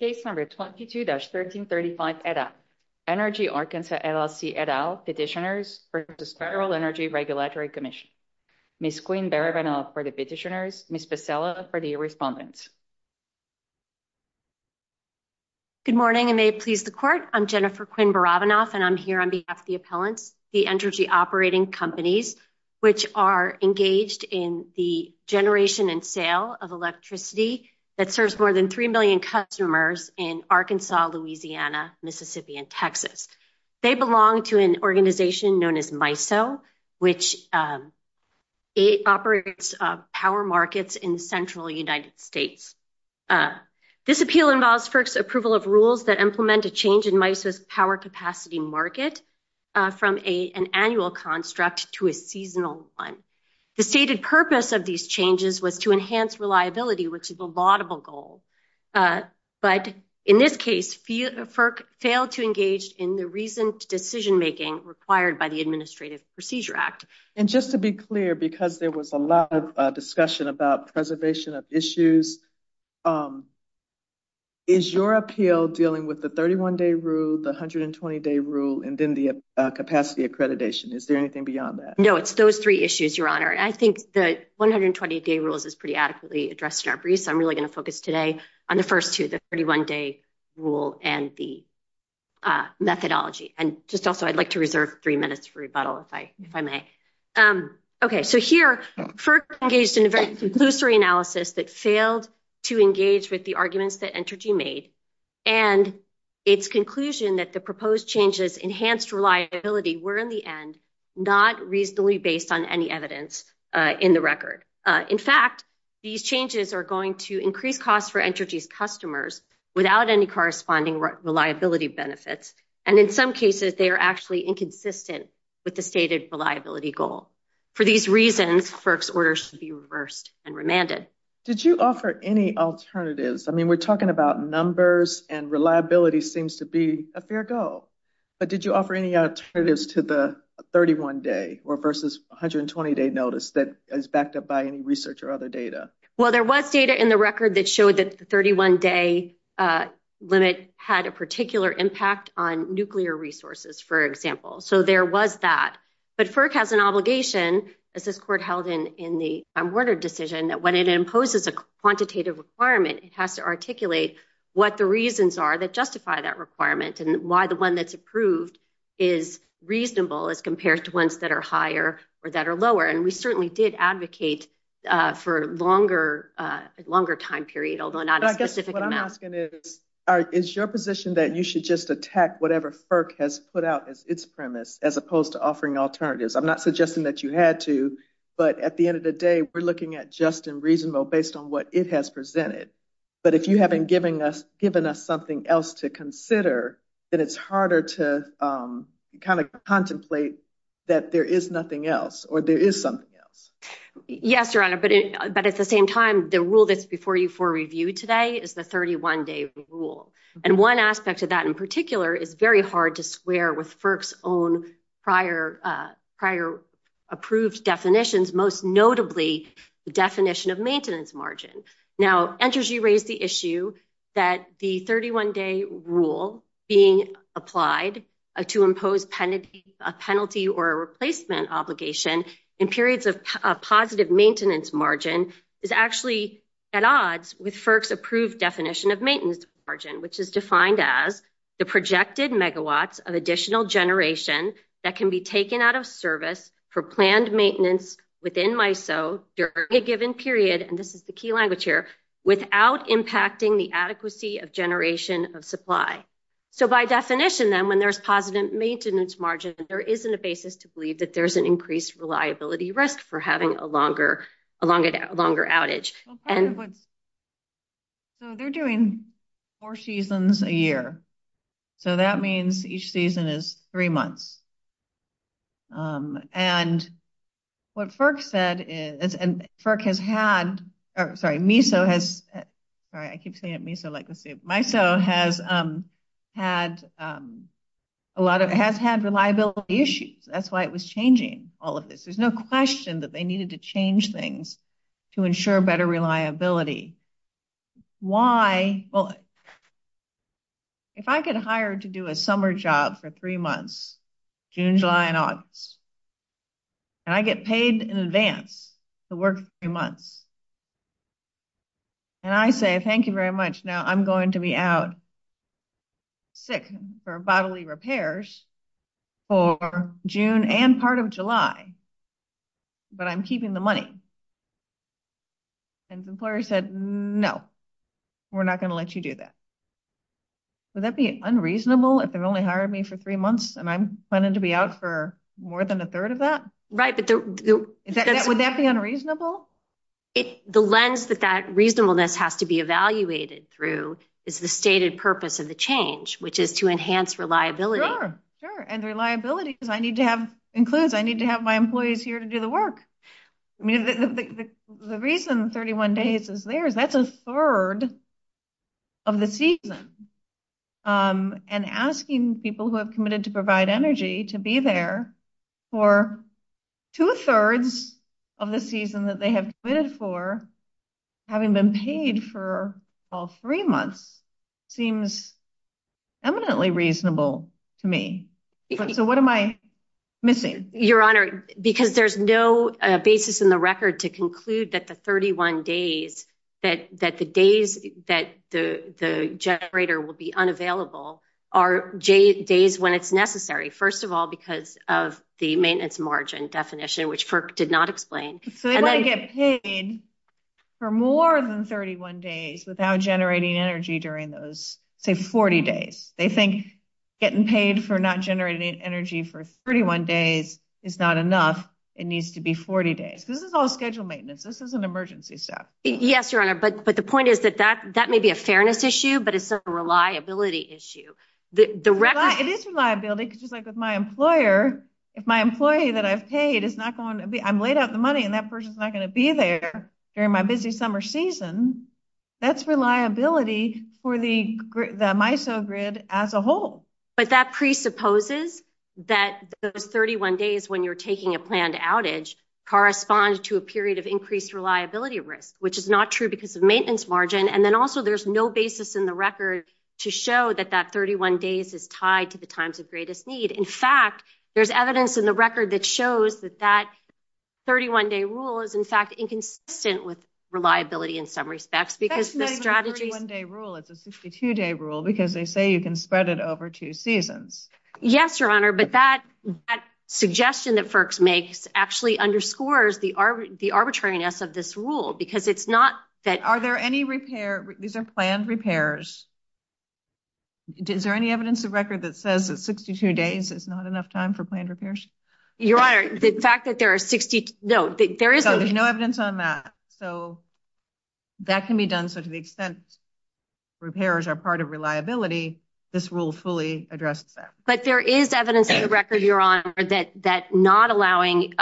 Case number 22-1335, Energy Arkansas, LLC, et al. Petitioners for the Federal Energy Regulatory Commission. Ms. Quinn Barabanov for the petitioners, Ms. Becella for the respondents. Good morning and may it please the court. I'm Jennifer Quinn Barabanov and I'm here on behalf of the appellants, the energy operating companies, which are engaged in the generation and sale of customers in Arkansas, Louisiana, Mississippi, and Texas. They belong to an organization known as MISO, which operates power markets in the central United States. This appeal involves FERC's approval of rules that implement a change in MISO's power capacity market from an annual construct to a seasonal one. The stated purpose of these changes was to enhance reliability, which is a laudable goal. But in this case, FERC failed to engage in the recent decision-making required by the Administrative Procedure Act. And just to be clear, because there was a lot of discussion about preservation of issues, is your appeal dealing with the 31-day rule, the 120-day rule, and then the capacity accreditation? Is there anything beyond that? No, it's those three issues, Your Honor. I think the 120-day rules is pretty adequately addressed in our brief, so I'm really going to focus today on the first two, the 31-day rule and the methodology. And just also, I'd like to reserve three minutes for rebuttal, if I may. Okay, so here, FERC engaged in a very conclusory analysis that failed to engage with the arguments that Entergy made, and its conclusion that the proposed changes enhanced reliability were, in the increased costs for Entergy's customers without any corresponding reliability benefits. And in some cases, they are actually inconsistent with the stated reliability goal. For these reasons, FERC's orders should be reversed and remanded. Did you offer any alternatives? I mean, we're talking about numbers, and reliability seems to be a fair goal. But did you offer any alternatives to the 31-day versus 120-day notice that is backed up by any research or other data? Well, there was data in the record that showed that the 31-day limit had a particular impact on nuclear resources, for example. So there was that. But FERC has an obligation, as this Court held in the Warner decision, that when it imposes a quantitative requirement, it has to articulate what the reasons are that justify that requirement, and why the one that's approved is reasonable as compared to ones that are higher or that are longer time period, although not a specific amount. But I guess what I'm asking is, is your position that you should just attack whatever FERC has put out as its premise, as opposed to offering alternatives? I'm not suggesting that you had to, but at the end of the day, we're looking at just and reasonable based on what it has presented. But if you haven't given us something else to consider, then it's harder to kind of contemplate that there is nothing else, or there is something else. Yes, Your Honor. But at the same time, the rule that's before you for review today is the 31-day rule. And one aspect of that in particular is very hard to square with FERC's own prior approved definitions, most notably the definition of maintenance margin. Now, Andrews, you raised the issue that the 31-day rule being applied to impose a penalty or a replacement obligation in periods of positive maintenance margin is actually at odds with FERC's approved definition of maintenance margin, which is defined as the projected megawatts of additional generation that can be taken out of service for planned maintenance within MISO during a given period, and this is the key language here, without impacting the adequacy of generation of supply. So by definition, then, when there's positive maintenance margin, there isn't a basis to believe that there's an increased reliability risk for having a longer outage. So they're doing four seasons a year. So that means each season is three months. And what FERC said is, and FERC has had, sorry, MISO has, sorry, I keep saying it MISO like issues. That's why it was changing all of this. There's no question that they needed to change things to ensure better reliability. Why? Well, if I get hired to do a summer job for three months, June, July, and August, and I get paid in advance to work three months, and I say, thank you very much, now I'm going to be out sick for bodily repairs for June and part of July, but I'm keeping the money, and the employer said, no, we're not going to let you do that. Would that be unreasonable if they've only hired me for three months, and I'm planning to be out for more than a third of that? Right. Would that be unreasonable? It, the lens that that reasonableness has to be evaluated through is the stated purpose of the change, which is to enhance reliability. Sure, sure. And reliability includes I need to have my employees here to do the work. I mean, the reason 31 days is theirs, that's a third of the season. And asking people who have committed to provide energy to be there for two-thirds of the season that they have committed for, having been paid for all three months, seems eminently reasonable to me. So what am I missing? Your Honor, because there's no basis in the record to conclude that the 31 days, that the days that the generator will be the maintenance margin definition, which FERC did not explain. So they want to get paid for more than 31 days without generating energy during those, say, 40 days. They think getting paid for not generating energy for 31 days is not enough. It needs to be 40 days. This is all scheduled maintenance. This is an emergency step. Yes, Your Honor, but the point is that that may be a fairness issue, but it's a reliability issue. It is reliability, because just like with my employee that I've paid, I'm laid out the money and that person's not going to be there during my busy summer season, that's reliability for the MISO grid as a whole. But that presupposes that those 31 days when you're taking a planned outage correspond to a period of increased reliability risk, which is not true because of maintenance margin. And then also there's no basis in the record to show that that 31 days is tied to times of greatest need. In fact, there's evidence in the record that shows that that 31-day rule is, in fact, inconsistent with reliability in some respects. That's not even a 31-day rule. It's a 62-day rule, because they say you can spread it over two seasons. Yes, Your Honor, but that suggestion that FERC makes actually underscores the arbitrariness of this rule, because it's not that— Are there any repair—these are planned repairs. Is there any evidence of record that says that 62 days is not enough time for planned repairs? Your Honor, the fact that there are 62—no, there is— So there's no evidence on that. So that can be done. So to the extent repairs are part of reliability, this rule fully addresses that. But there is evidence in the record, Your Honor, that not allowing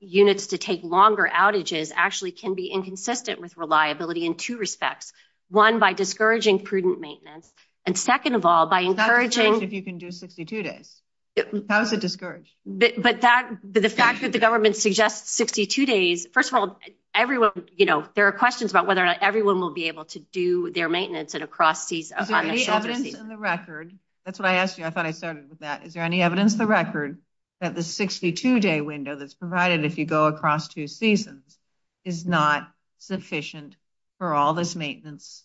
units to take longer outages actually can be inconsistent with reliability in two respects. One, by discouraging prudent maintenance. And second of all, by encouraging— It's not discouraging if you can do 62 days. How is it discouraging? But the fact that the government suggests 62 days—first of all, there are questions about whether or not everyone will be able to do their maintenance and across— Is there any evidence in the record—that's what I asked you. I thought I started with that. Is there any evidence in the record that the 62-day window that's provided if you go across two seasons is not sufficient for all this reliability?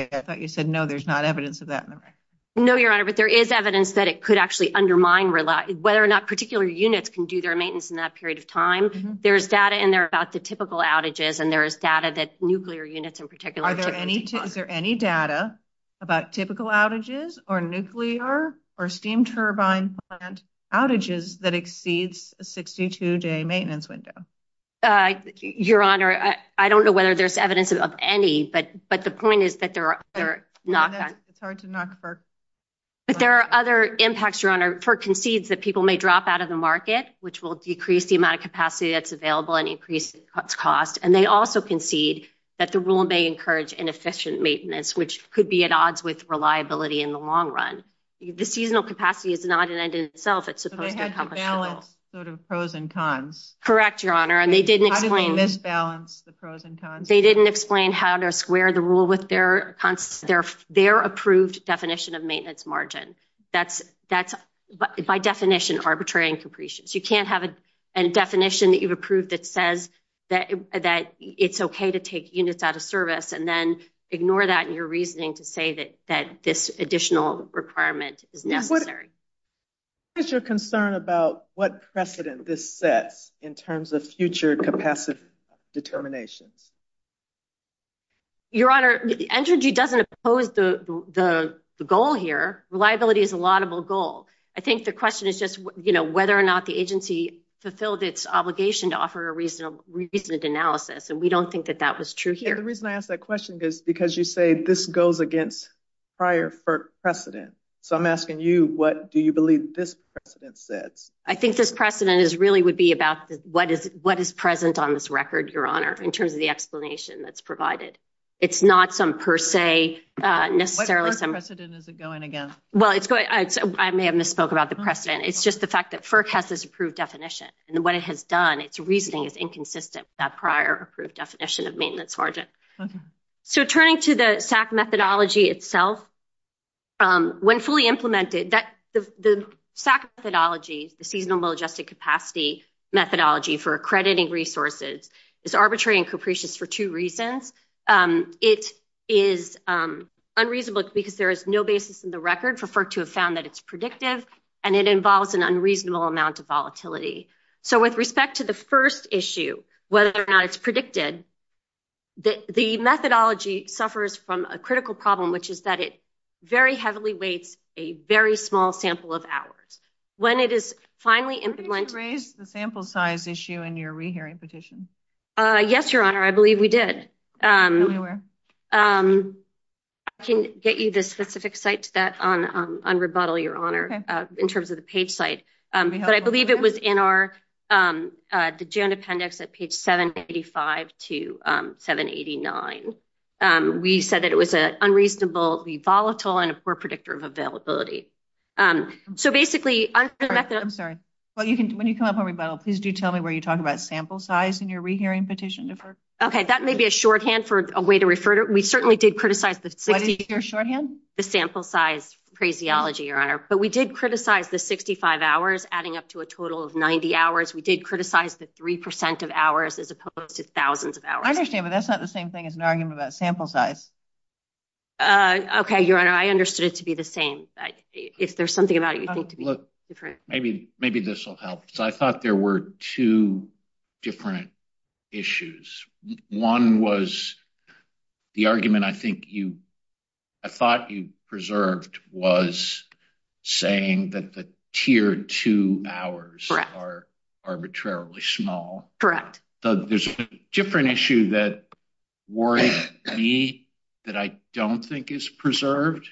I thought you said no, there's not evidence of that in the record. No, Your Honor, but there is evidence that it could actually undermine—whether or not particular units can do their maintenance in that period of time. There's data in there about the typical outages, and there is data that nuclear units in particular typically— Is there any data about typical outages or nuclear or steam turbine plant outages that exceeds a 62-day maintenance window? Your Honor, I don't know whether there's any, but the point is that there are— It's hard to knock for— But there are other impacts, Your Honor, for concedes that people may drop out of the market, which will decrease the amount of capacity that's available and increase its cost, and they also concede that the rule may encourage inefficient maintenance, which could be at odds with reliability in the long run. The seasonal capacity is not an end in itself. It's supposed to be— So they had to balance sort of pros and cons. Correct, Your Honor, and they didn't explain— How did they misbalance the pros and cons? They didn't explain how to square the rule with their approved definition of maintenance margin. That's, by definition, arbitrary and capricious. You can't have a definition that you've approved that says that it's okay to take units out of service and then ignore that in your reasoning to say that this additional requirement is necessary. What is your concern about what they're saying? Your Honor, the NJG doesn't oppose the goal here. Reliability is a laudable goal. I think the question is just whether or not the agency fulfilled its obligation to offer a reasonable analysis, and we don't think that that was true here. The reason I ask that question is because you say this goes against prior precedent. So I'm asking you, what do you believe this precedent says? I think this precedent really would be about what is present on this record, Your Honor, in terms of the explanation that's provided. It's not some per se, necessarily— What precedent is it going against? Well, I may have misspoke about the precedent. It's just the fact that FERC has this approved definition, and what it has done, its reasoning is inconsistent with that prior approved definition of maintenance margin. So turning to the SAC methodology itself, when fully implemented, the SAC methodology, the Seasonable Adjusted Capacity methodology for accrediting resources is arbitrary and capricious for two reasons. It is unreasonable because there is no basis in the record for FERC to have found that it's predictive, and it involves an unreasonable amount of volatility. So with respect to the first issue, whether or not it's predicted, the methodology suffers from a critical problem, which is that it very heavily weights a very small sample of hours. When it is finally implemented— Were you able to raise the sample size issue in your rehearing petition? Yes, Your Honor, I believe we did. I can get you the specific site to that on rebuttal, Your Honor, in terms of the page site. But I believe it was in the June appendix at page 785 to 789. We said that it was unreasonably volatile and a poor predictor of availability. So basically— I'm sorry. When you come up on rebuttal, please do tell me where you talk about sample size in your rehearing petition. Okay, that may be a shorthand for a way to refer to it. We certainly did criticize the— What is your shorthand? The sample size phraseology, Your Honor. But we did criticize the 65 hours adding up to a total of 90 hours. We did criticize the 3 percent of hours as opposed to thousands of hours. I understand, but that's not the same thing as an argument about sample size. Okay, Your Honor, I understood it to be the same. If there's something about it you think to be— Look, maybe this will help. So I thought there were two different issues. One was the argument I think you— I thought you preserved was saying that the tier 2 hours are arbitrarily small. Correct. There's a different issue that worries me that I don't think is preserved,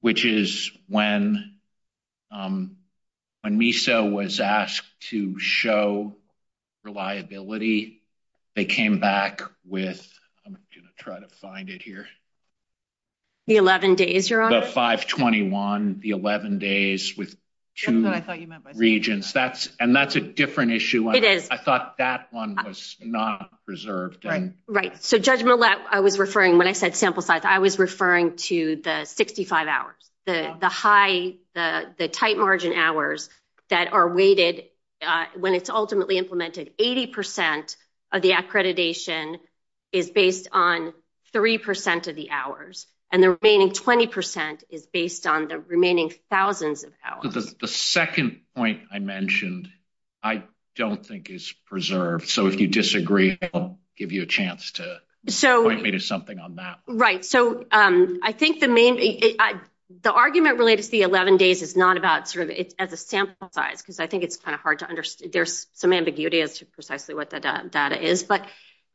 which is when MISO was asked to show reliability, they came back with— I'm going to try to find it here. The 11 days, Your Honor. The 521, the 11 days with two regions. Something that I thought you meant by— And that's a different issue. It is. I thought that one was not preserved. Right. So, Judge Millett, I was referring— when I said sample size, I was referring to the 65 hours, the high, the tight margin hours that are weighted when it's ultimately implemented. 80 percent of the accreditation is based on 3 percent of the hours, and the remaining 20 percent is based on the remaining thousands of hours. The second point I mentioned I don't think is preserved. So, if you disagree, I'll give you a chance to point me to something on that. Right. So, I think the main— the argument related to the 11 days is not about sort of as a sample size, because I think it's kind of hard to understand. There's some ambiguity as to precisely what the data is. But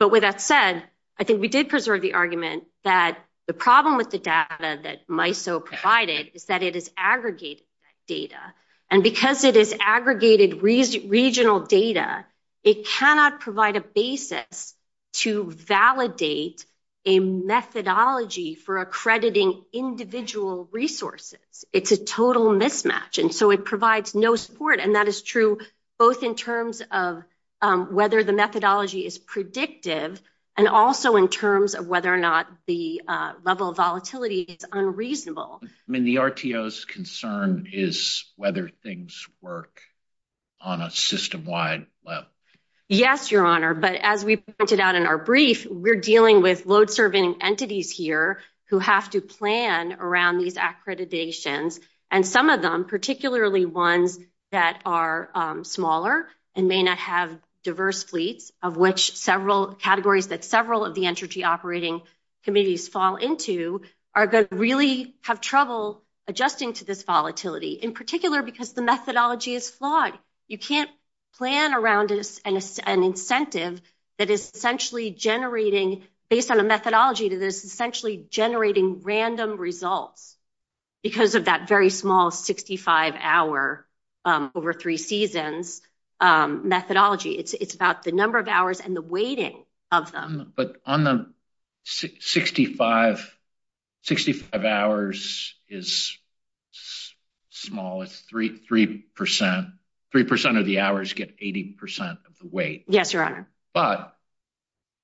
with that said, I think we did preserve the argument that the problem with the data that MISO provided is that it is aggregated data. And because it is aggregated regional data, it cannot provide a basis to validate a methodology for accrediting individual resources. It's a total mismatch. And so, it provides no support. And that is true both in terms of whether the methodology is predictive and also in terms of whether or not the level of volatility is unreasonable. I mean, the RTO's concern is whether things work. On a system-wide level. Yes, Your Honor. But as we pointed out in our brief, we're dealing with load-serving entities here who have to plan around these accreditations. And some of them, particularly ones that are smaller and may not have diverse fleets, of which several categories that several of the energy operating committees fall into, are going to really have trouble adjusting to this volatility, in particular because the can't plan around an incentive that is essentially generating, based on a methodology to this, essentially generating random results because of that very small 65-hour over three seasons methodology. It's about the number of hours and the weighting of them. But on the 65 hours is small. It's three percent. Three percent of the hours get 80 percent of the weight. Yes, Your Honor. But,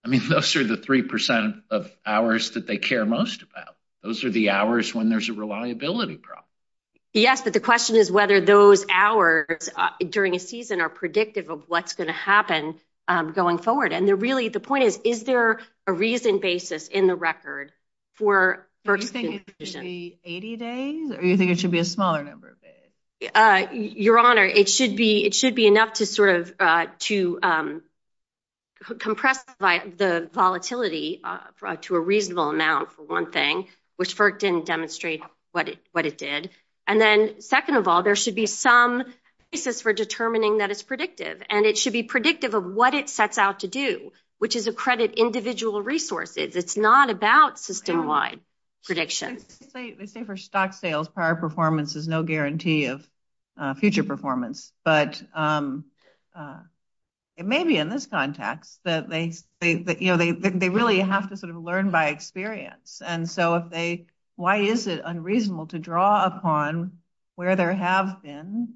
I mean, those are the three percent of hours that they care most about. Those are the hours when there's a reliability problem. Yes, but the question is whether those hours during a season are predictive of what's going to happen going forward. And really, the point is, is there a reasoned basis in the record for Do you think it should be 80 days or do you think it should be a smaller number of days? Your Honor, it should be enough to sort of, to compress the volatility to a reasonable amount, for one thing, which FERC didn't demonstrate what it did. And then, second of all, there should be some basis for determining that it's predictive. And it should be predictive of what it sets out to do, which is accredit individual resources. It's not about system-wide predictions. They say for stock sales, prior performance is no guarantee of future performance. But it may be in this context that they really have to sort of learn by experience. And so, why is it unreasonable to draw upon where there have been,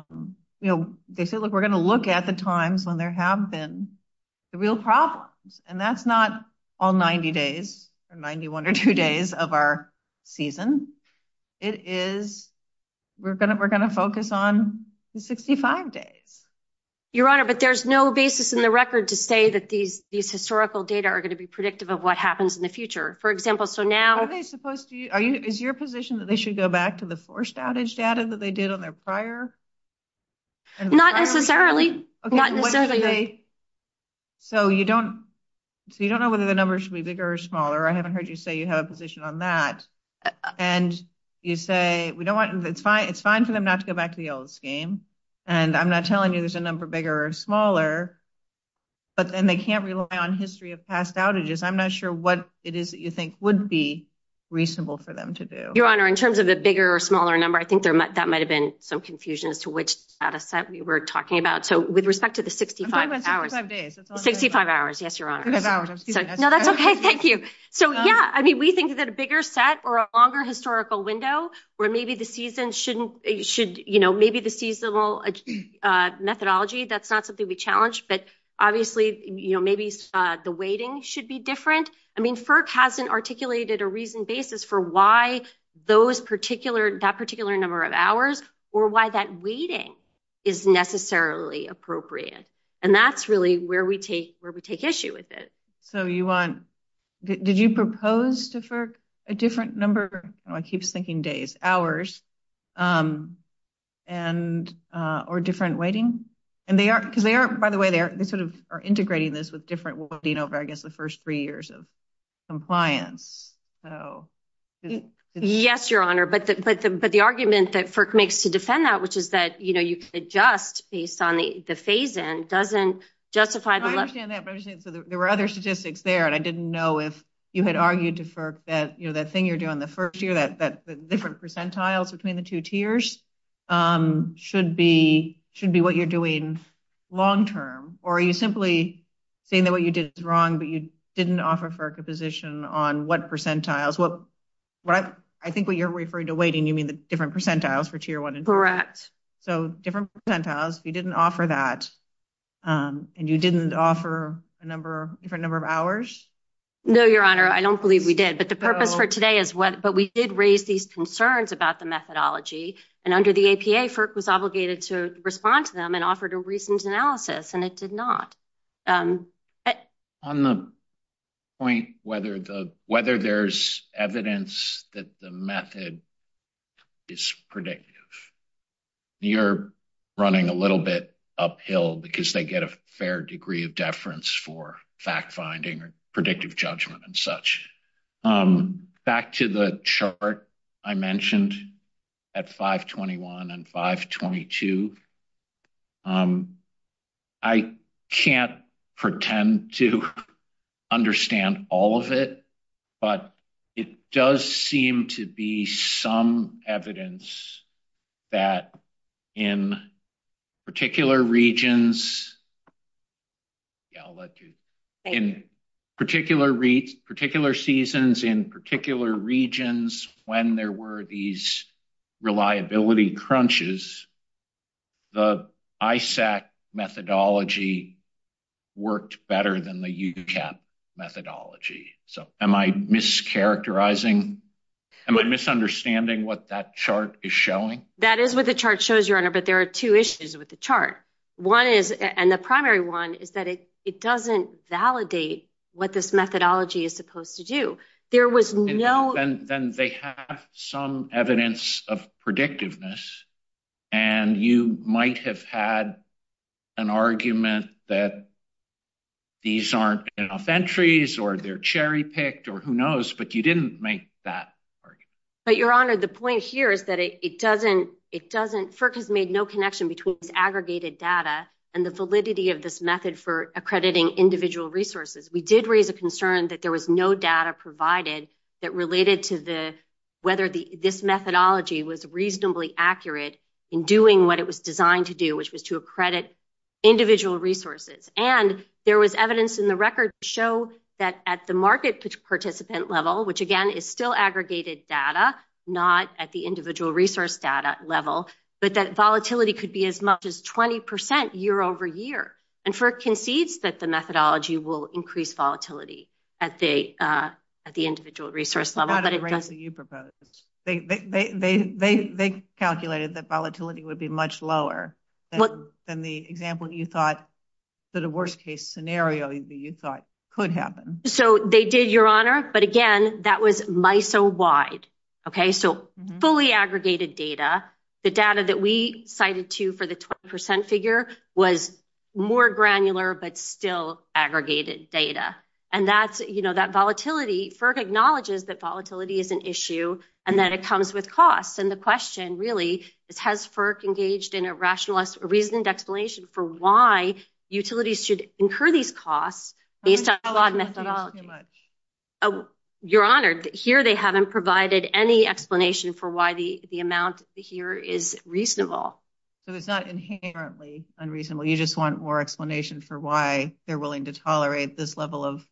you know, they say, look, we're going to look at the times when there have been the real problems. And that's not all 90 days or 91 or two days of our season. It is, we're going to focus on the 65 days. Your Honor, but there's no basis in the record to say that these historical data are going to be predictive of what happens in the future. Is your position that they should go back to the forced outage data that they did on their prior? Not necessarily. So, you don't know whether the numbers should be bigger or smaller. I haven't heard you say you have a position on that. And you say, we don't want, it's fine for them not to go back to the old scheme. And I'm not telling you there's a number bigger or smaller, but then they can't rely on history of past outages. I'm not sure what it is you think would be reasonable for them to do. Your Honor, in terms of the bigger or smaller number, I think that might've been some confusion as to which data set we were talking about. So, with respect to the 65 hours, 65 hours. Yes, Your Honor. No, that's okay. Thank you. So yeah, I mean, we think that a bigger set or a longer historical window where maybe the season shouldn't, should, you know, maybe the seasonal methodology, that's not something we challenge, but FERC hasn't articulated a reasoned basis for why those particular, that particular number of hours or why that waiting is necessarily appropriate. And that's really where we take issue with it. So, you want, did you propose to FERC a different number, I don't know, I keep thinking days, hours, or different waiting? And they are, because they are, by the way, they sort of are integrating this with different waiting over, I guess, the first three years of compliance. Yes, Your Honor. But the, but the, but the argument that FERC makes to defend that, which is that, you know, you can adjust based on the phase-in doesn't justify the- I understand that, but I'm just saying, so there were other statistics there and I didn't know if you had argued to FERC that, you know, that thing you're doing the first year, that, that different percentiles between the two tiers should be, should be what you're doing long-term, or are you simply saying that what you did is wrong, but you didn't offer FERC a position on what percentiles, what, what I think what you're referring to waiting, you mean the different percentiles for tier one and two? Correct. So, different percentiles, you didn't offer that, and you didn't offer a number, different number of hours? No, Your Honor, I don't believe we did, but the purpose for today is what, but we did raise these concerns about the methodology, and under the APA, FERC was obligated to respond to them and offered a reasons analysis, and it did not. On the point whether the, whether there's evidence that the method is predictive, you're running a little bit uphill because they get a fair degree of deference for fact-finding or predictive judgment and such. Back to the chart I mentioned at 521 and 522, I can't pretend to understand all of it, but it does seem to be some evidence that in particular regions, yeah, I'll let you, in particular, particular seasons, in particular regions, the UCAP methodology worked better than the UCAP methodology. So, am I mischaracterizing, am I misunderstanding what that chart is showing? That is what the chart shows, Your Honor, but there are two issues with the chart. One is, and the primary one is that it doesn't validate what this methodology is supposed to do. There was no... Then they have some evidence of that these aren't enough entries or they're cherry-picked or who knows, but you didn't make that argument. But Your Honor, the point here is that it doesn't, it doesn't, FERC has made no connection between this aggregated data and the validity of this method for accrediting individual resources. We did raise a concern that there was no data provided that related to the, whether the, this methodology was reasonably accurate in doing what it was designed to do, which was to And there was evidence in the record to show that at the market participant level, which, again, is still aggregated data, not at the individual resource data level, but that volatility could be as much as 20 percent year over year. And FERC concedes that the methodology will increase volatility at the, at the individual resource level, but it doesn't... Not at the rates that you proposed. They calculated that volatility would be much lower than the example that you thought that a worst case scenario that you thought could happen. So they did, Your Honor, but again, that was MISO wide. Okay. So fully aggregated data, the data that we cited to for the 20 percent figure was more granular, but still aggregated data. And that's, you know, that volatility, FERC acknowledges that volatility is an issue and that it comes with costs. And the question really is, has FERC engaged in a rationalized reasoned explanation for why utilities should incur these costs based on flawed methodology? Your Honor, here they haven't provided any explanation for why the amount here is reasonable. So it's not inherently unreasonable. You just want more explanation for why they're willing to tolerate this level of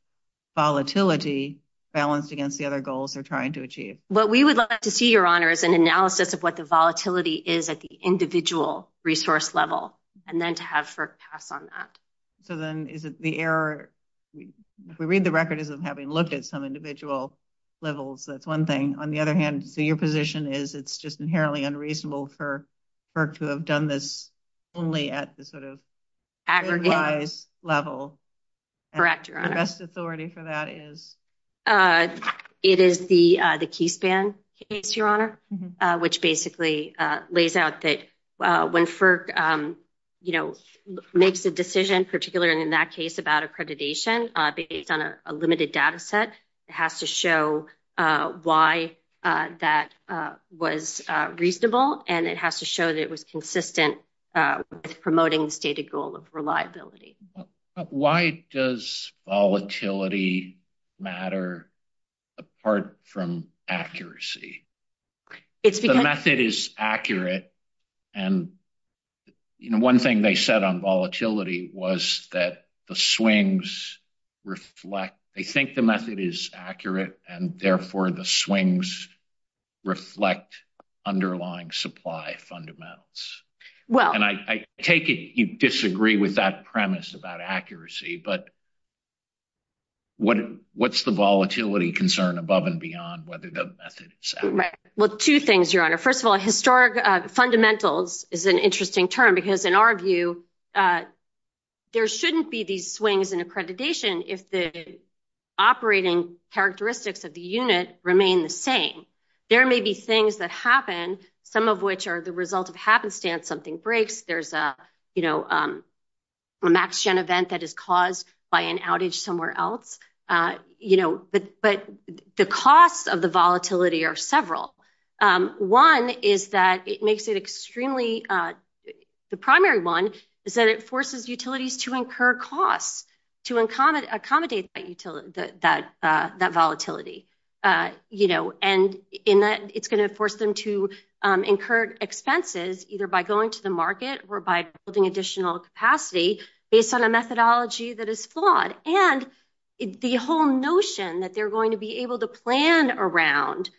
volatility balanced against the other goals they're trying to achieve. What we would like to see, Your Honor, is an analysis of what the volatility is at the individual resource level, and then to have FERC pass on that. So then is it the error... If we read the record as of having looked at some individual levels, that's one thing. On the other hand, so your position is it's just inherently unreasonable for FERC to have done this only at the sort of... Aggregate... ...big-wise level. Correct, Your Honor. The best authority for that is? It is the Keyspan case, Your Honor, which basically lays out that when FERC makes a decision, particularly in that case about accreditation based on a limited data set, it has to show why that was reasonable, and it has to show that it was consistent with promoting the stated goal of reliability. Why does volatility matter apart from accuracy? The method is accurate, and one thing they said on volatility was that the swings reflect... They think the method is accurate, and therefore the swings reflect underlying supply fundamentals. And I take it you disagree with that premise about accuracy, but what's the volatility concern above and beyond whether the method is accurate? Well, two things, Your Honor. First of all, historic fundamentals is an interesting term because in our view, there shouldn't be these swings in accreditation if the operating characteristics of the unit remain the same. There may be things that happen, some of which are the result of happenstance. Something breaks. There's a max-gen event that is caused by an outage somewhere else, but the costs of the volatility are several. One is that it makes it extremely... The primary one is that it forces utilities to incur expenses either by going to the market or by building additional capacity based on a methodology that is flawed. And the whole notion that they're going to be able to plan around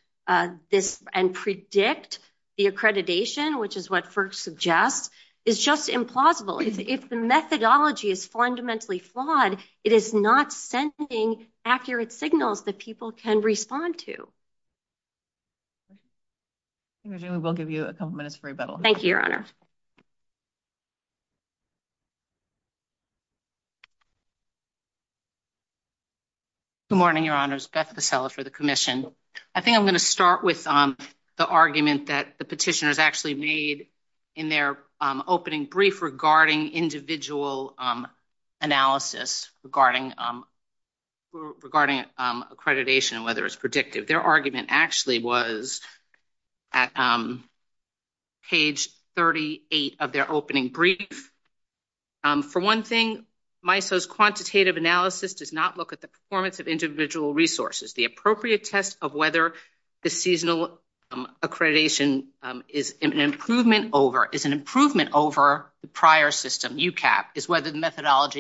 this and predict the accreditation, which is what FERC suggests, is just implausible. If the methodology is fundamentally flawed, it is not sending accurate signals that people can respond to. We will give you a couple minutes for rebuttal. Thank you, Your Honor. Good morning, Your Honors. Beth Pescella for the commission. I think I'm going to start with the argument that the petitioners actually made in their opening brief regarding individual analysis regarding accreditation and whether it's predictive. Their argument actually was at page 38 of their opening brief. For one thing, MISO's quantitative analysis does not look at the performance of individual resources. The appropriate test of whether the seasonal methodology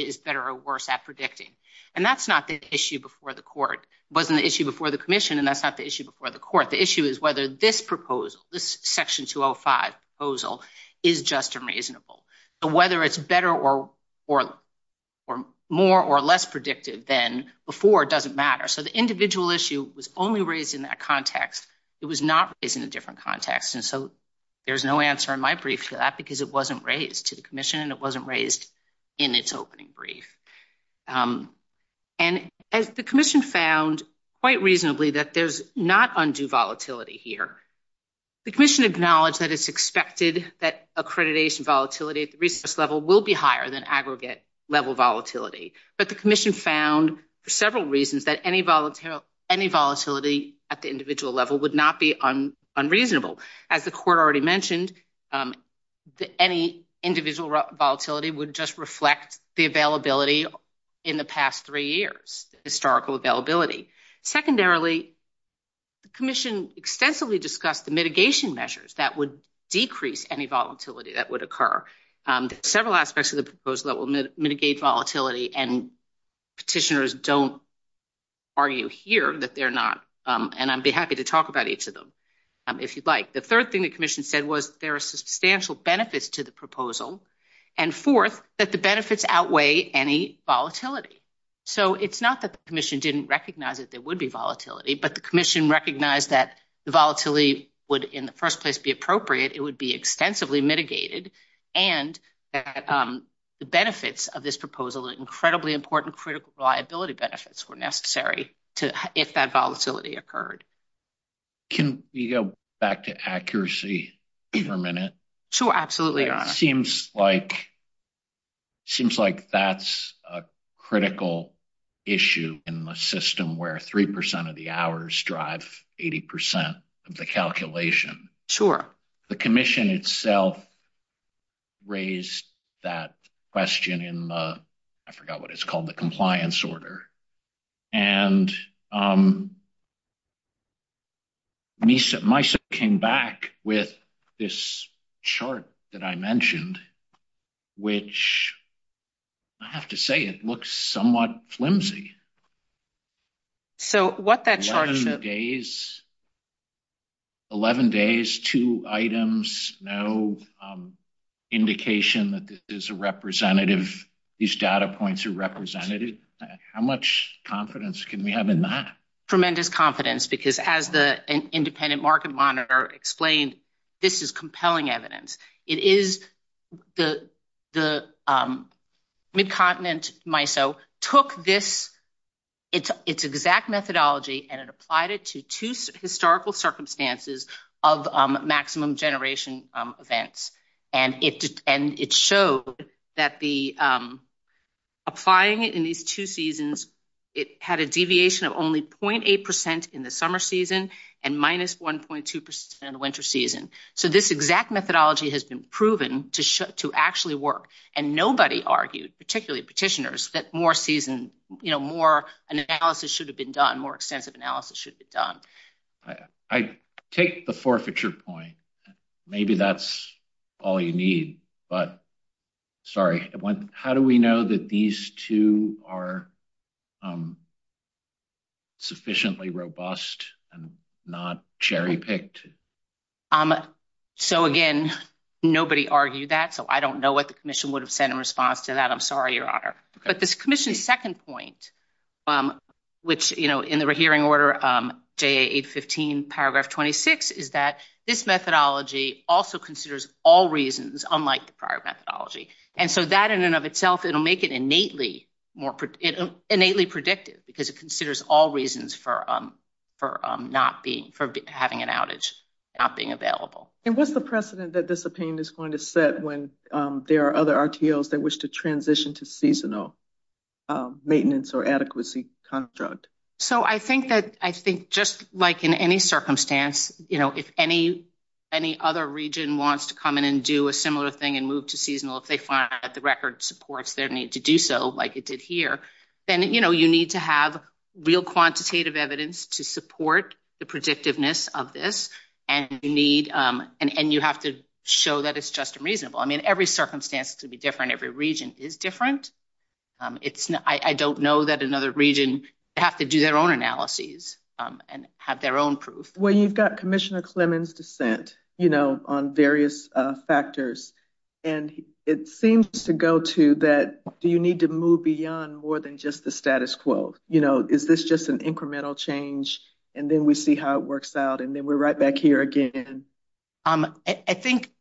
is better or worse at predicting. And that's not the issue before the court. It wasn't the issue before the commission, and that's not the issue before the court. The issue is whether this proposal, this section 205 proposal, is just unreasonable. So whether it's better or more or less predictive than before doesn't matter. So the individual issue was only raised in that context. It was not raised in a different context. And so there's no answer in my brief to because it wasn't raised to the commission and it wasn't raised in its opening brief. And as the commission found quite reasonably that there's not undue volatility here. The commission acknowledged that it's expected that accreditation volatility at the resource level will be higher than aggregate level volatility. But the commission found for several reasons that any volatility at the individual level would not be unreasonable. As the court already mentioned, any individual volatility would just reflect the availability in the past three years, historical availability. Secondarily, the commission extensively discussed the mitigation measures that would decrease any volatility that would occur. Several aspects of the proposal that will mitigate volatility and petitioners don't argue here that they're not. And I'd be happy to talk about each of them if you'd like. The third thing the commission said was there are substantial benefits to the proposal. And fourth, that the benefits outweigh any volatility. So it's not that the commission didn't recognize that there would be volatility, but the commission recognized that the volatility would in the first place be appropriate, it would be extensively mitigated. And the benefits of this proposal are incredibly important critical reliability benefits were necessary if that volatility occurred. Can we go back to accuracy for a minute? Sure, absolutely. Seems like that's a critical issue in the system where 3% of the hours drive 80% of the calculation. Sure. The commission itself raised that question in, I forgot what it's called, the compliance order. And MISA came back with this chart that I mentioned, which I have to say it looks somewhat flimsy. 11 days, two items, no indication that this is a representative, these data points are representative. How much confidence can we have in that? Tremendous confidence because as the independent market monitor explained, this is compelling took this exact methodology and it applied it to two historical circumstances of maximum generation events. And it showed that applying it in these two seasons, it had a deviation of only 0.8% in the summer season and minus 1.2% in the winter season. So this exact methodology has been proven to actually work. And nobody argued, particularly petitioners, that more season, more analysis should have been done, more extensive analysis should be done. I take the forfeiture point. Maybe that's all you need, but sorry. How do we know that these two are sufficiently robust and not cherry picked? So again, nobody argued that, so I don't know what the commission would have said in response to that. I'm sorry, Your Honor. But this commission's second point, which in the rehearing order, JA 815 paragraph 26, is that this methodology also considers all reasons, unlike the prior methodology. And so that in and of itself, it'll make it innately predictive because it considers all reasons for having an outage, not being available. And what's the precedent that this opinion is going to set when there are other RTOs that transition to seasonal maintenance or adequacy construct? So I think that just like in any circumstance, if any other region wants to come in and do a similar thing and move to seasonal, if they find that the record supports their need to do so, like it did here, then you need to have real quantitative evidence to support the predictiveness of this. And you have to show that it's just and reasonable. I mean, circumstances can be different. Every region is different. I don't know that another region have to do their own analyses and have their own proof. Well, you've got Commissioner Clemons' dissent on various factors, and it seems to go to that, do you need to move beyond more than just the status quo? Is this just an incremental change, and then we see how it works out, and then we're right back here again? I think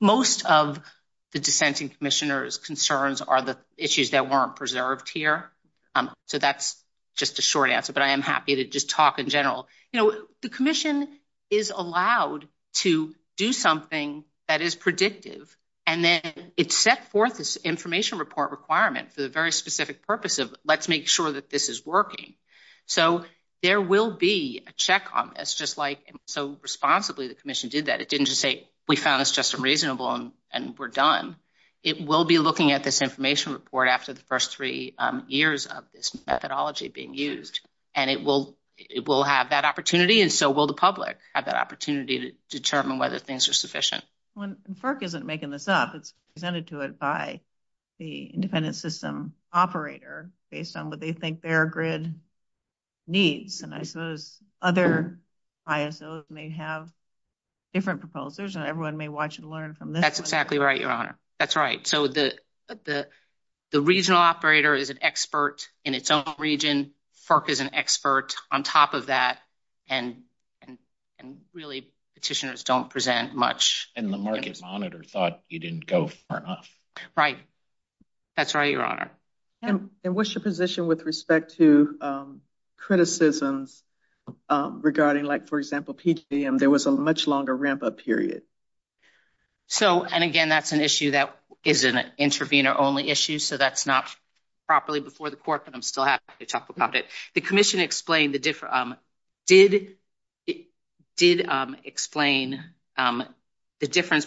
most of the dissenting Commissioner's concerns are the issues that weren't preserved here. So that's just a short answer, but I am happy to just talk in general. You know, the Commission is allowed to do something that is predictive, and then it's set forth this information report requirement for the very specific purpose of let's make sure that this is working. So there will be a check on this, just like so responsibly the Commission did that. It didn't just say, we found this just and reasonable, and we're done. It will be looking at this information report after the first three years of this methodology being used, and it will have that opportunity, and so will the public have that opportunity to determine whether things are sufficient. FERC isn't making this up. It's presented to it by the independent system operator based on what they think their grid needs, and I suppose other ISOs may have different proposals, and everyone may watch and learn from this. That's exactly right, Your Honor. That's right. So the regional operator is an expert in its own region. FERC is an expert on top of that, and really petitioners don't present much. And the market monitor thought you didn't go far enough. Right. That's right, Your Honor. And what's your position with respect to criticisms regarding, like, for example, PGM? There was a much longer ramp-up period. So, and again, that's an issue that is an intervener-only issue, so that's not properly before the Court, but I'm still happy to talk about it. The Commission explained the difference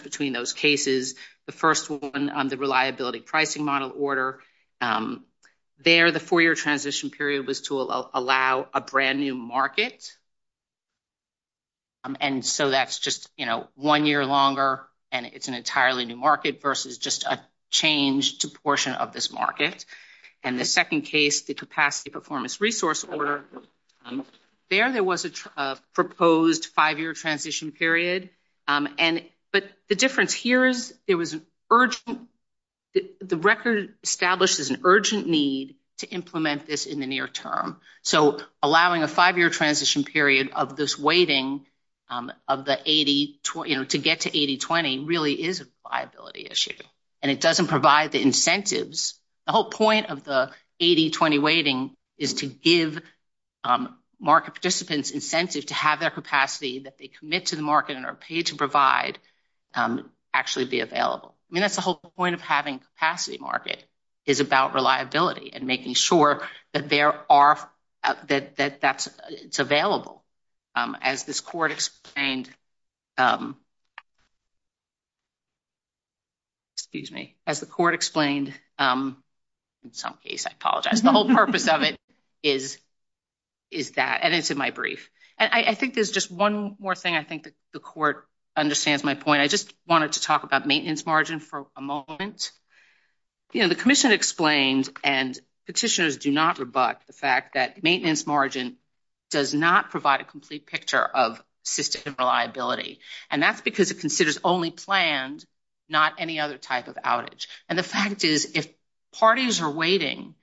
between those cases. The first one, the reliability pricing model order, there the four-year transition period was to allow a brand-new market, and so that's just, you know, one year longer, and it's an entirely new market versus just a change to portion of this market. And the second case, the capacity performance resource order, there there was a proposed five-year transition period, but the difference here is there was an urgent, the record establishes an urgent need to implement this in the near term. So allowing a five-year transition period of this waiting of the 80, you know, to get to 80-20 really is a viability issue, and it doesn't provide the incentives. The whole point of the 80-20 waiting is to give market participants incentive to have their capacity that they commit to the market and are paid to provide actually be available. I mean, that's the whole point of having a capacity market is about reliability and making sure that there are, that that's, it's available. As this Court explained, excuse me, as the Court explained, in some case, I apologize, the whole purpose of it is that, and it's in my brief. And I think there's just one more thing, I think the Court understands my point. I just wanted to talk about maintenance margin for a moment. You know, the Commission explained and petitioners do not rebut the fact that maintenance margin does not provide a complete picture of system reliability, and that's because it considers only planned, not any other type of outage. And the fact is, if parties are waiting,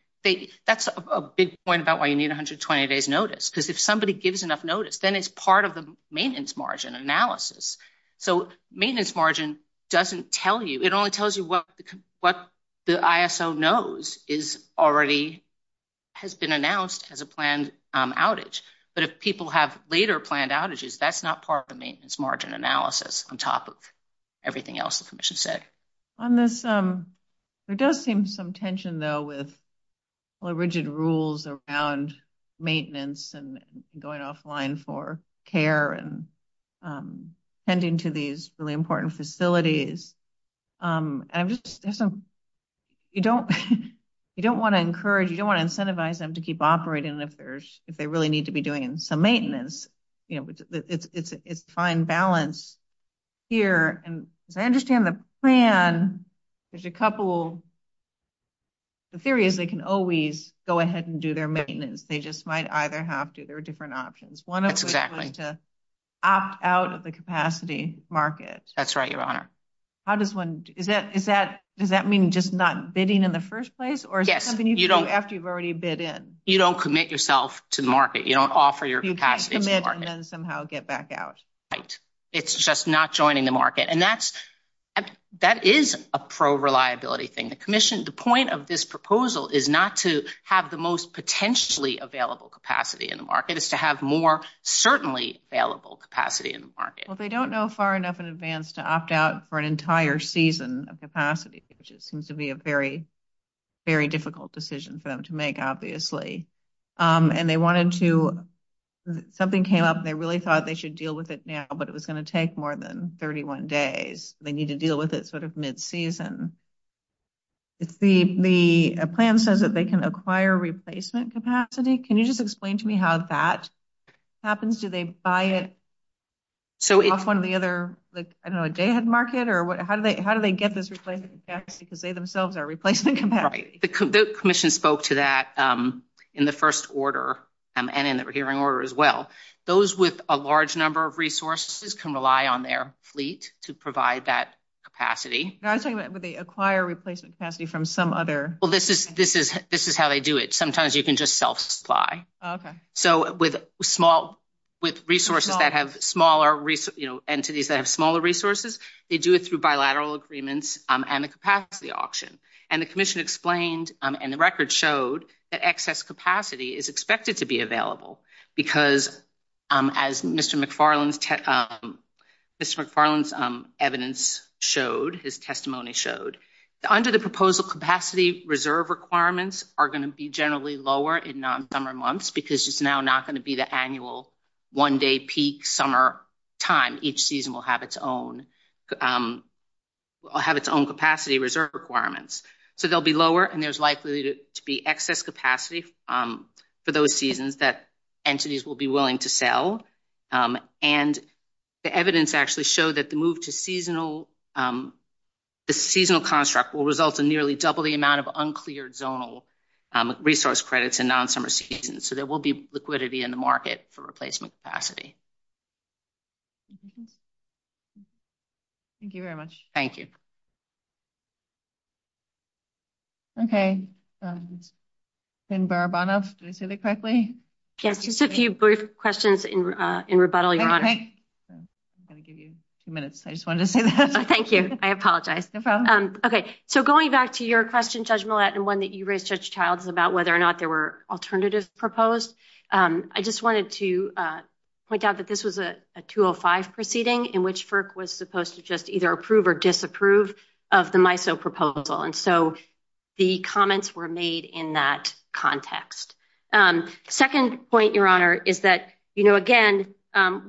that's a big point about why you need 120 days notice, because if somebody gives enough notice, then it's part of the maintenance margin analysis. So maintenance margin doesn't tell you, it only tells you what the ISO knows is already, has been announced as a planned outage. But if people have later planned outages, that's not part of the maintenance margin analysis on top of everything else the Commission said. On this, there does seem some tension though with rigid rules around maintenance and going offline for care and tending to these really important facilities. And I'm just, there's some, you don't, you don't want to encourage, you don't want to incentivize them to keep operating if there's, if they really need to be doing some maintenance. You know, it's, it's, it's fine balance here. And as I understand the plan, there's a couple, the theory is they can always go ahead and do their maintenance. They just might either have to, there are different options. One of them is to opt out of the capacity market. That's right, Your Honor. How does one, is that, is that, does that mean just not bidding in the first place, or is it something you can do after you've already bid in? You don't commit yourself to the market. You don't offer your capacity to the market. You just commit and then somehow get back out. Right. It's just not joining the market. And that's, that is a pro-reliability thing. The Commission, the point of this proposal is not to have the most potentially available capacity in the market. It's to have more certainly available capacity in the market. Well, they don't know far enough in advance to opt out for an entire season of capacity, which seems to be a very, very difficult decision for them to make, obviously. And they wanted to, something came up, they really thought they should deal with it now, but it was going to take more than 31 days. They need to deal with it sort of mid-season. It's the, the plan says that they can acquire replacement capacity. Can you just explain to me how that happens? Do they buy it off one of the other, like, I don't know, a day ahead market, or what, how do they, how do they get this replacement capacity because they themselves are replacement capacity? Right. The Commission spoke to that in the first order and in the hearing order as well. Those with a large number of resources can rely on their fleet to provide that capacity. I was talking about, would they acquire replacement capacity from some other? Well, this is, this is, this is how they do it. Sometimes you can just self-supply. Okay. So with small, with resources that have smaller, you know, entities that have smaller resources, they do it through bilateral agreements and the capacity auction. And the Commission explained, and the record showed that excess capacity is expected to be available because as Mr. McFarland's, Mr. McFarland's evidence showed, his testimony showed, under the proposal capacity reserve requirements are going to be generally lower in non-summer months because it's now not going to be the annual one-day peak summer time. Each season will have its own, will have its own capacity reserve requirements. So they'll be lower and there's likely to be excess capacity for those seasons that entities will be willing to sell. And the evidence actually showed that the move to seasonal, the seasonal construct will result in nearly double the amount of uncleared zonal resource credits in non-summer seasons. So there you go. Thank you very much. Thank you. Okay. And Barabanov, did I say that correctly? Yes. Just a few brief questions in rebuttal, Your Honor. I'm going to give you two minutes. I just wanted to say that. Thank you. I apologize. Okay. So going back to your question, Judge Millett, and one that you raised, Judge Childs, about whether or not there were alternatives proposed, I just wanted to point out that this was a 205 proceeding in which FERC was supposed to just either approve or disapprove of the MISO proposal. And so the comments were made in that context. Second point, Your Honor, is that, you know, again,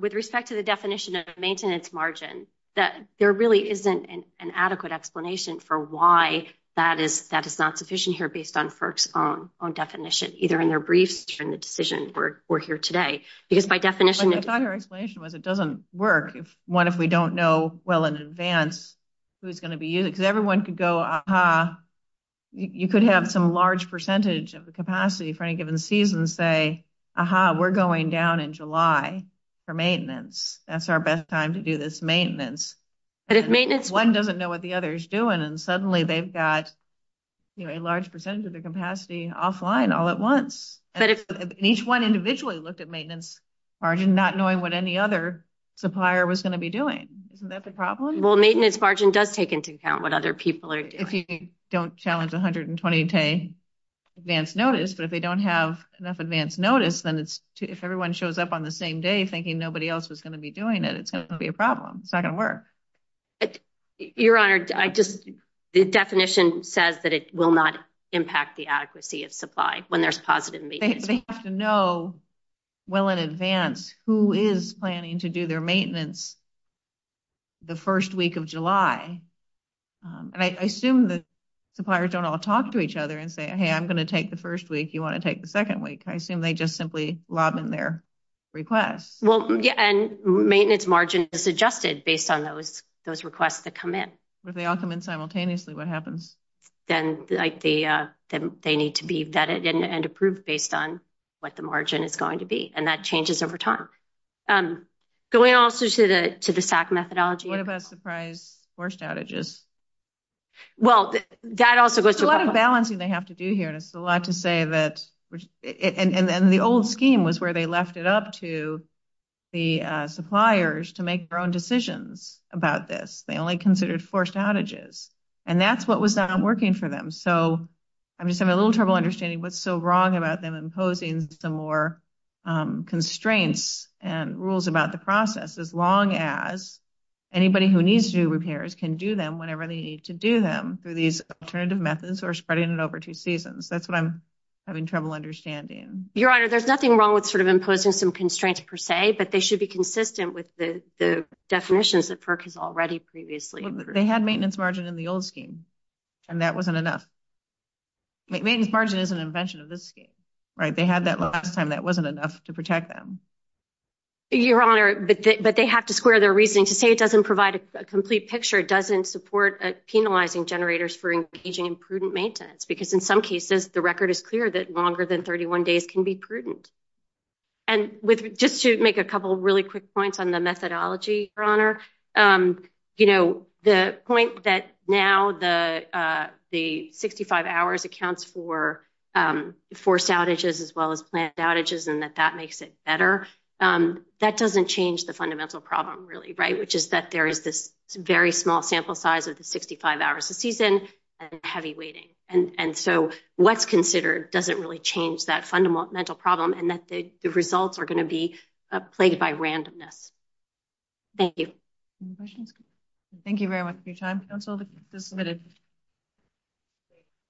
with respect to the definition of maintenance margin, that there really isn't an adequate explanation for why that is not sufficient here based on FERC's own definition, either in their briefs or in the decision we're here today. Because by definition... I thought her explanation was it doesn't work if, one, if we don't know well in advance who's going to be using it. Because everyone could go, aha, you could have some large percentage of the capacity for any given season say, aha, we're going down in July for maintenance. That's our best time to do this maintenance. But if maintenance... One doesn't know what the other is doing and suddenly they've got, you know, a large percentage of the capacity offline all at once. And each one individually looked at maintenance margin not knowing what any other supplier was going to be doing. Isn't that the problem? Well, maintenance margin does take into account what other people are doing. If you don't challenge 120 advance notice, but if they don't have enough advance notice, then if everyone shows up on the same day thinking nobody else was going to be doing it, it's going to be a problem. It's not going to work. Your Honor, I just... The definition says that it will not impact the adequacy of supply when there's positive maintenance. They have to know well in advance who is planning to do their maintenance the first week of July. And I assume that suppliers don't all talk to each other and say, hey, I'm going to take the first week, you want to take the second week. I assume they just simply lob in their requests. And maintenance margin is adjusted based on those requests that come in. But if they all come in simultaneously, what happens? Then they need to be vetted and approved based on what the margin is going to be. And that changes over time. Going also to the SAC methodology... What about surprise force outages? Well, that also goes to... There's a lot of balancing they have to do here. And it's a lot the suppliers to make their own decisions about this. They only considered forced outages. And that's what was not working for them. So I'm just having a little trouble understanding what's so wrong about them imposing some more constraints and rules about the process, as long as anybody who needs to do repairs can do them whenever they need to do them through these alternative methods or spreading it over two seasons. That's what I'm having trouble understanding. Your Honor, there's nothing wrong imposing some constraints per se, but they should be consistent with the definitions that FERC has already previously... They had maintenance margin in the old scheme, and that wasn't enough. Maintenance margin is an invention of this scheme, right? They had that last time. That wasn't enough to protect them. Your Honor, but they have to square their reasoning. To say it doesn't provide a complete picture doesn't support penalizing generators for engaging in prudent maintenance. Because in some cases, the record is clear that longer than 31 days can be prudent. And just to make a couple of really quick points on the methodology, Your Honor, the point that now the 65 hours accounts for forced outages as well as planned outages, and that that makes it better, that doesn't change the fundamental problem really, right? Which is that there is this very small sample size of the 65 hours a season and heavy weighting. And so what's considered doesn't really change that fundamental problem and that the results are going to be plagued by randomness. Thank you. Any questions? Thank you very much for your time. Counsel is submitted.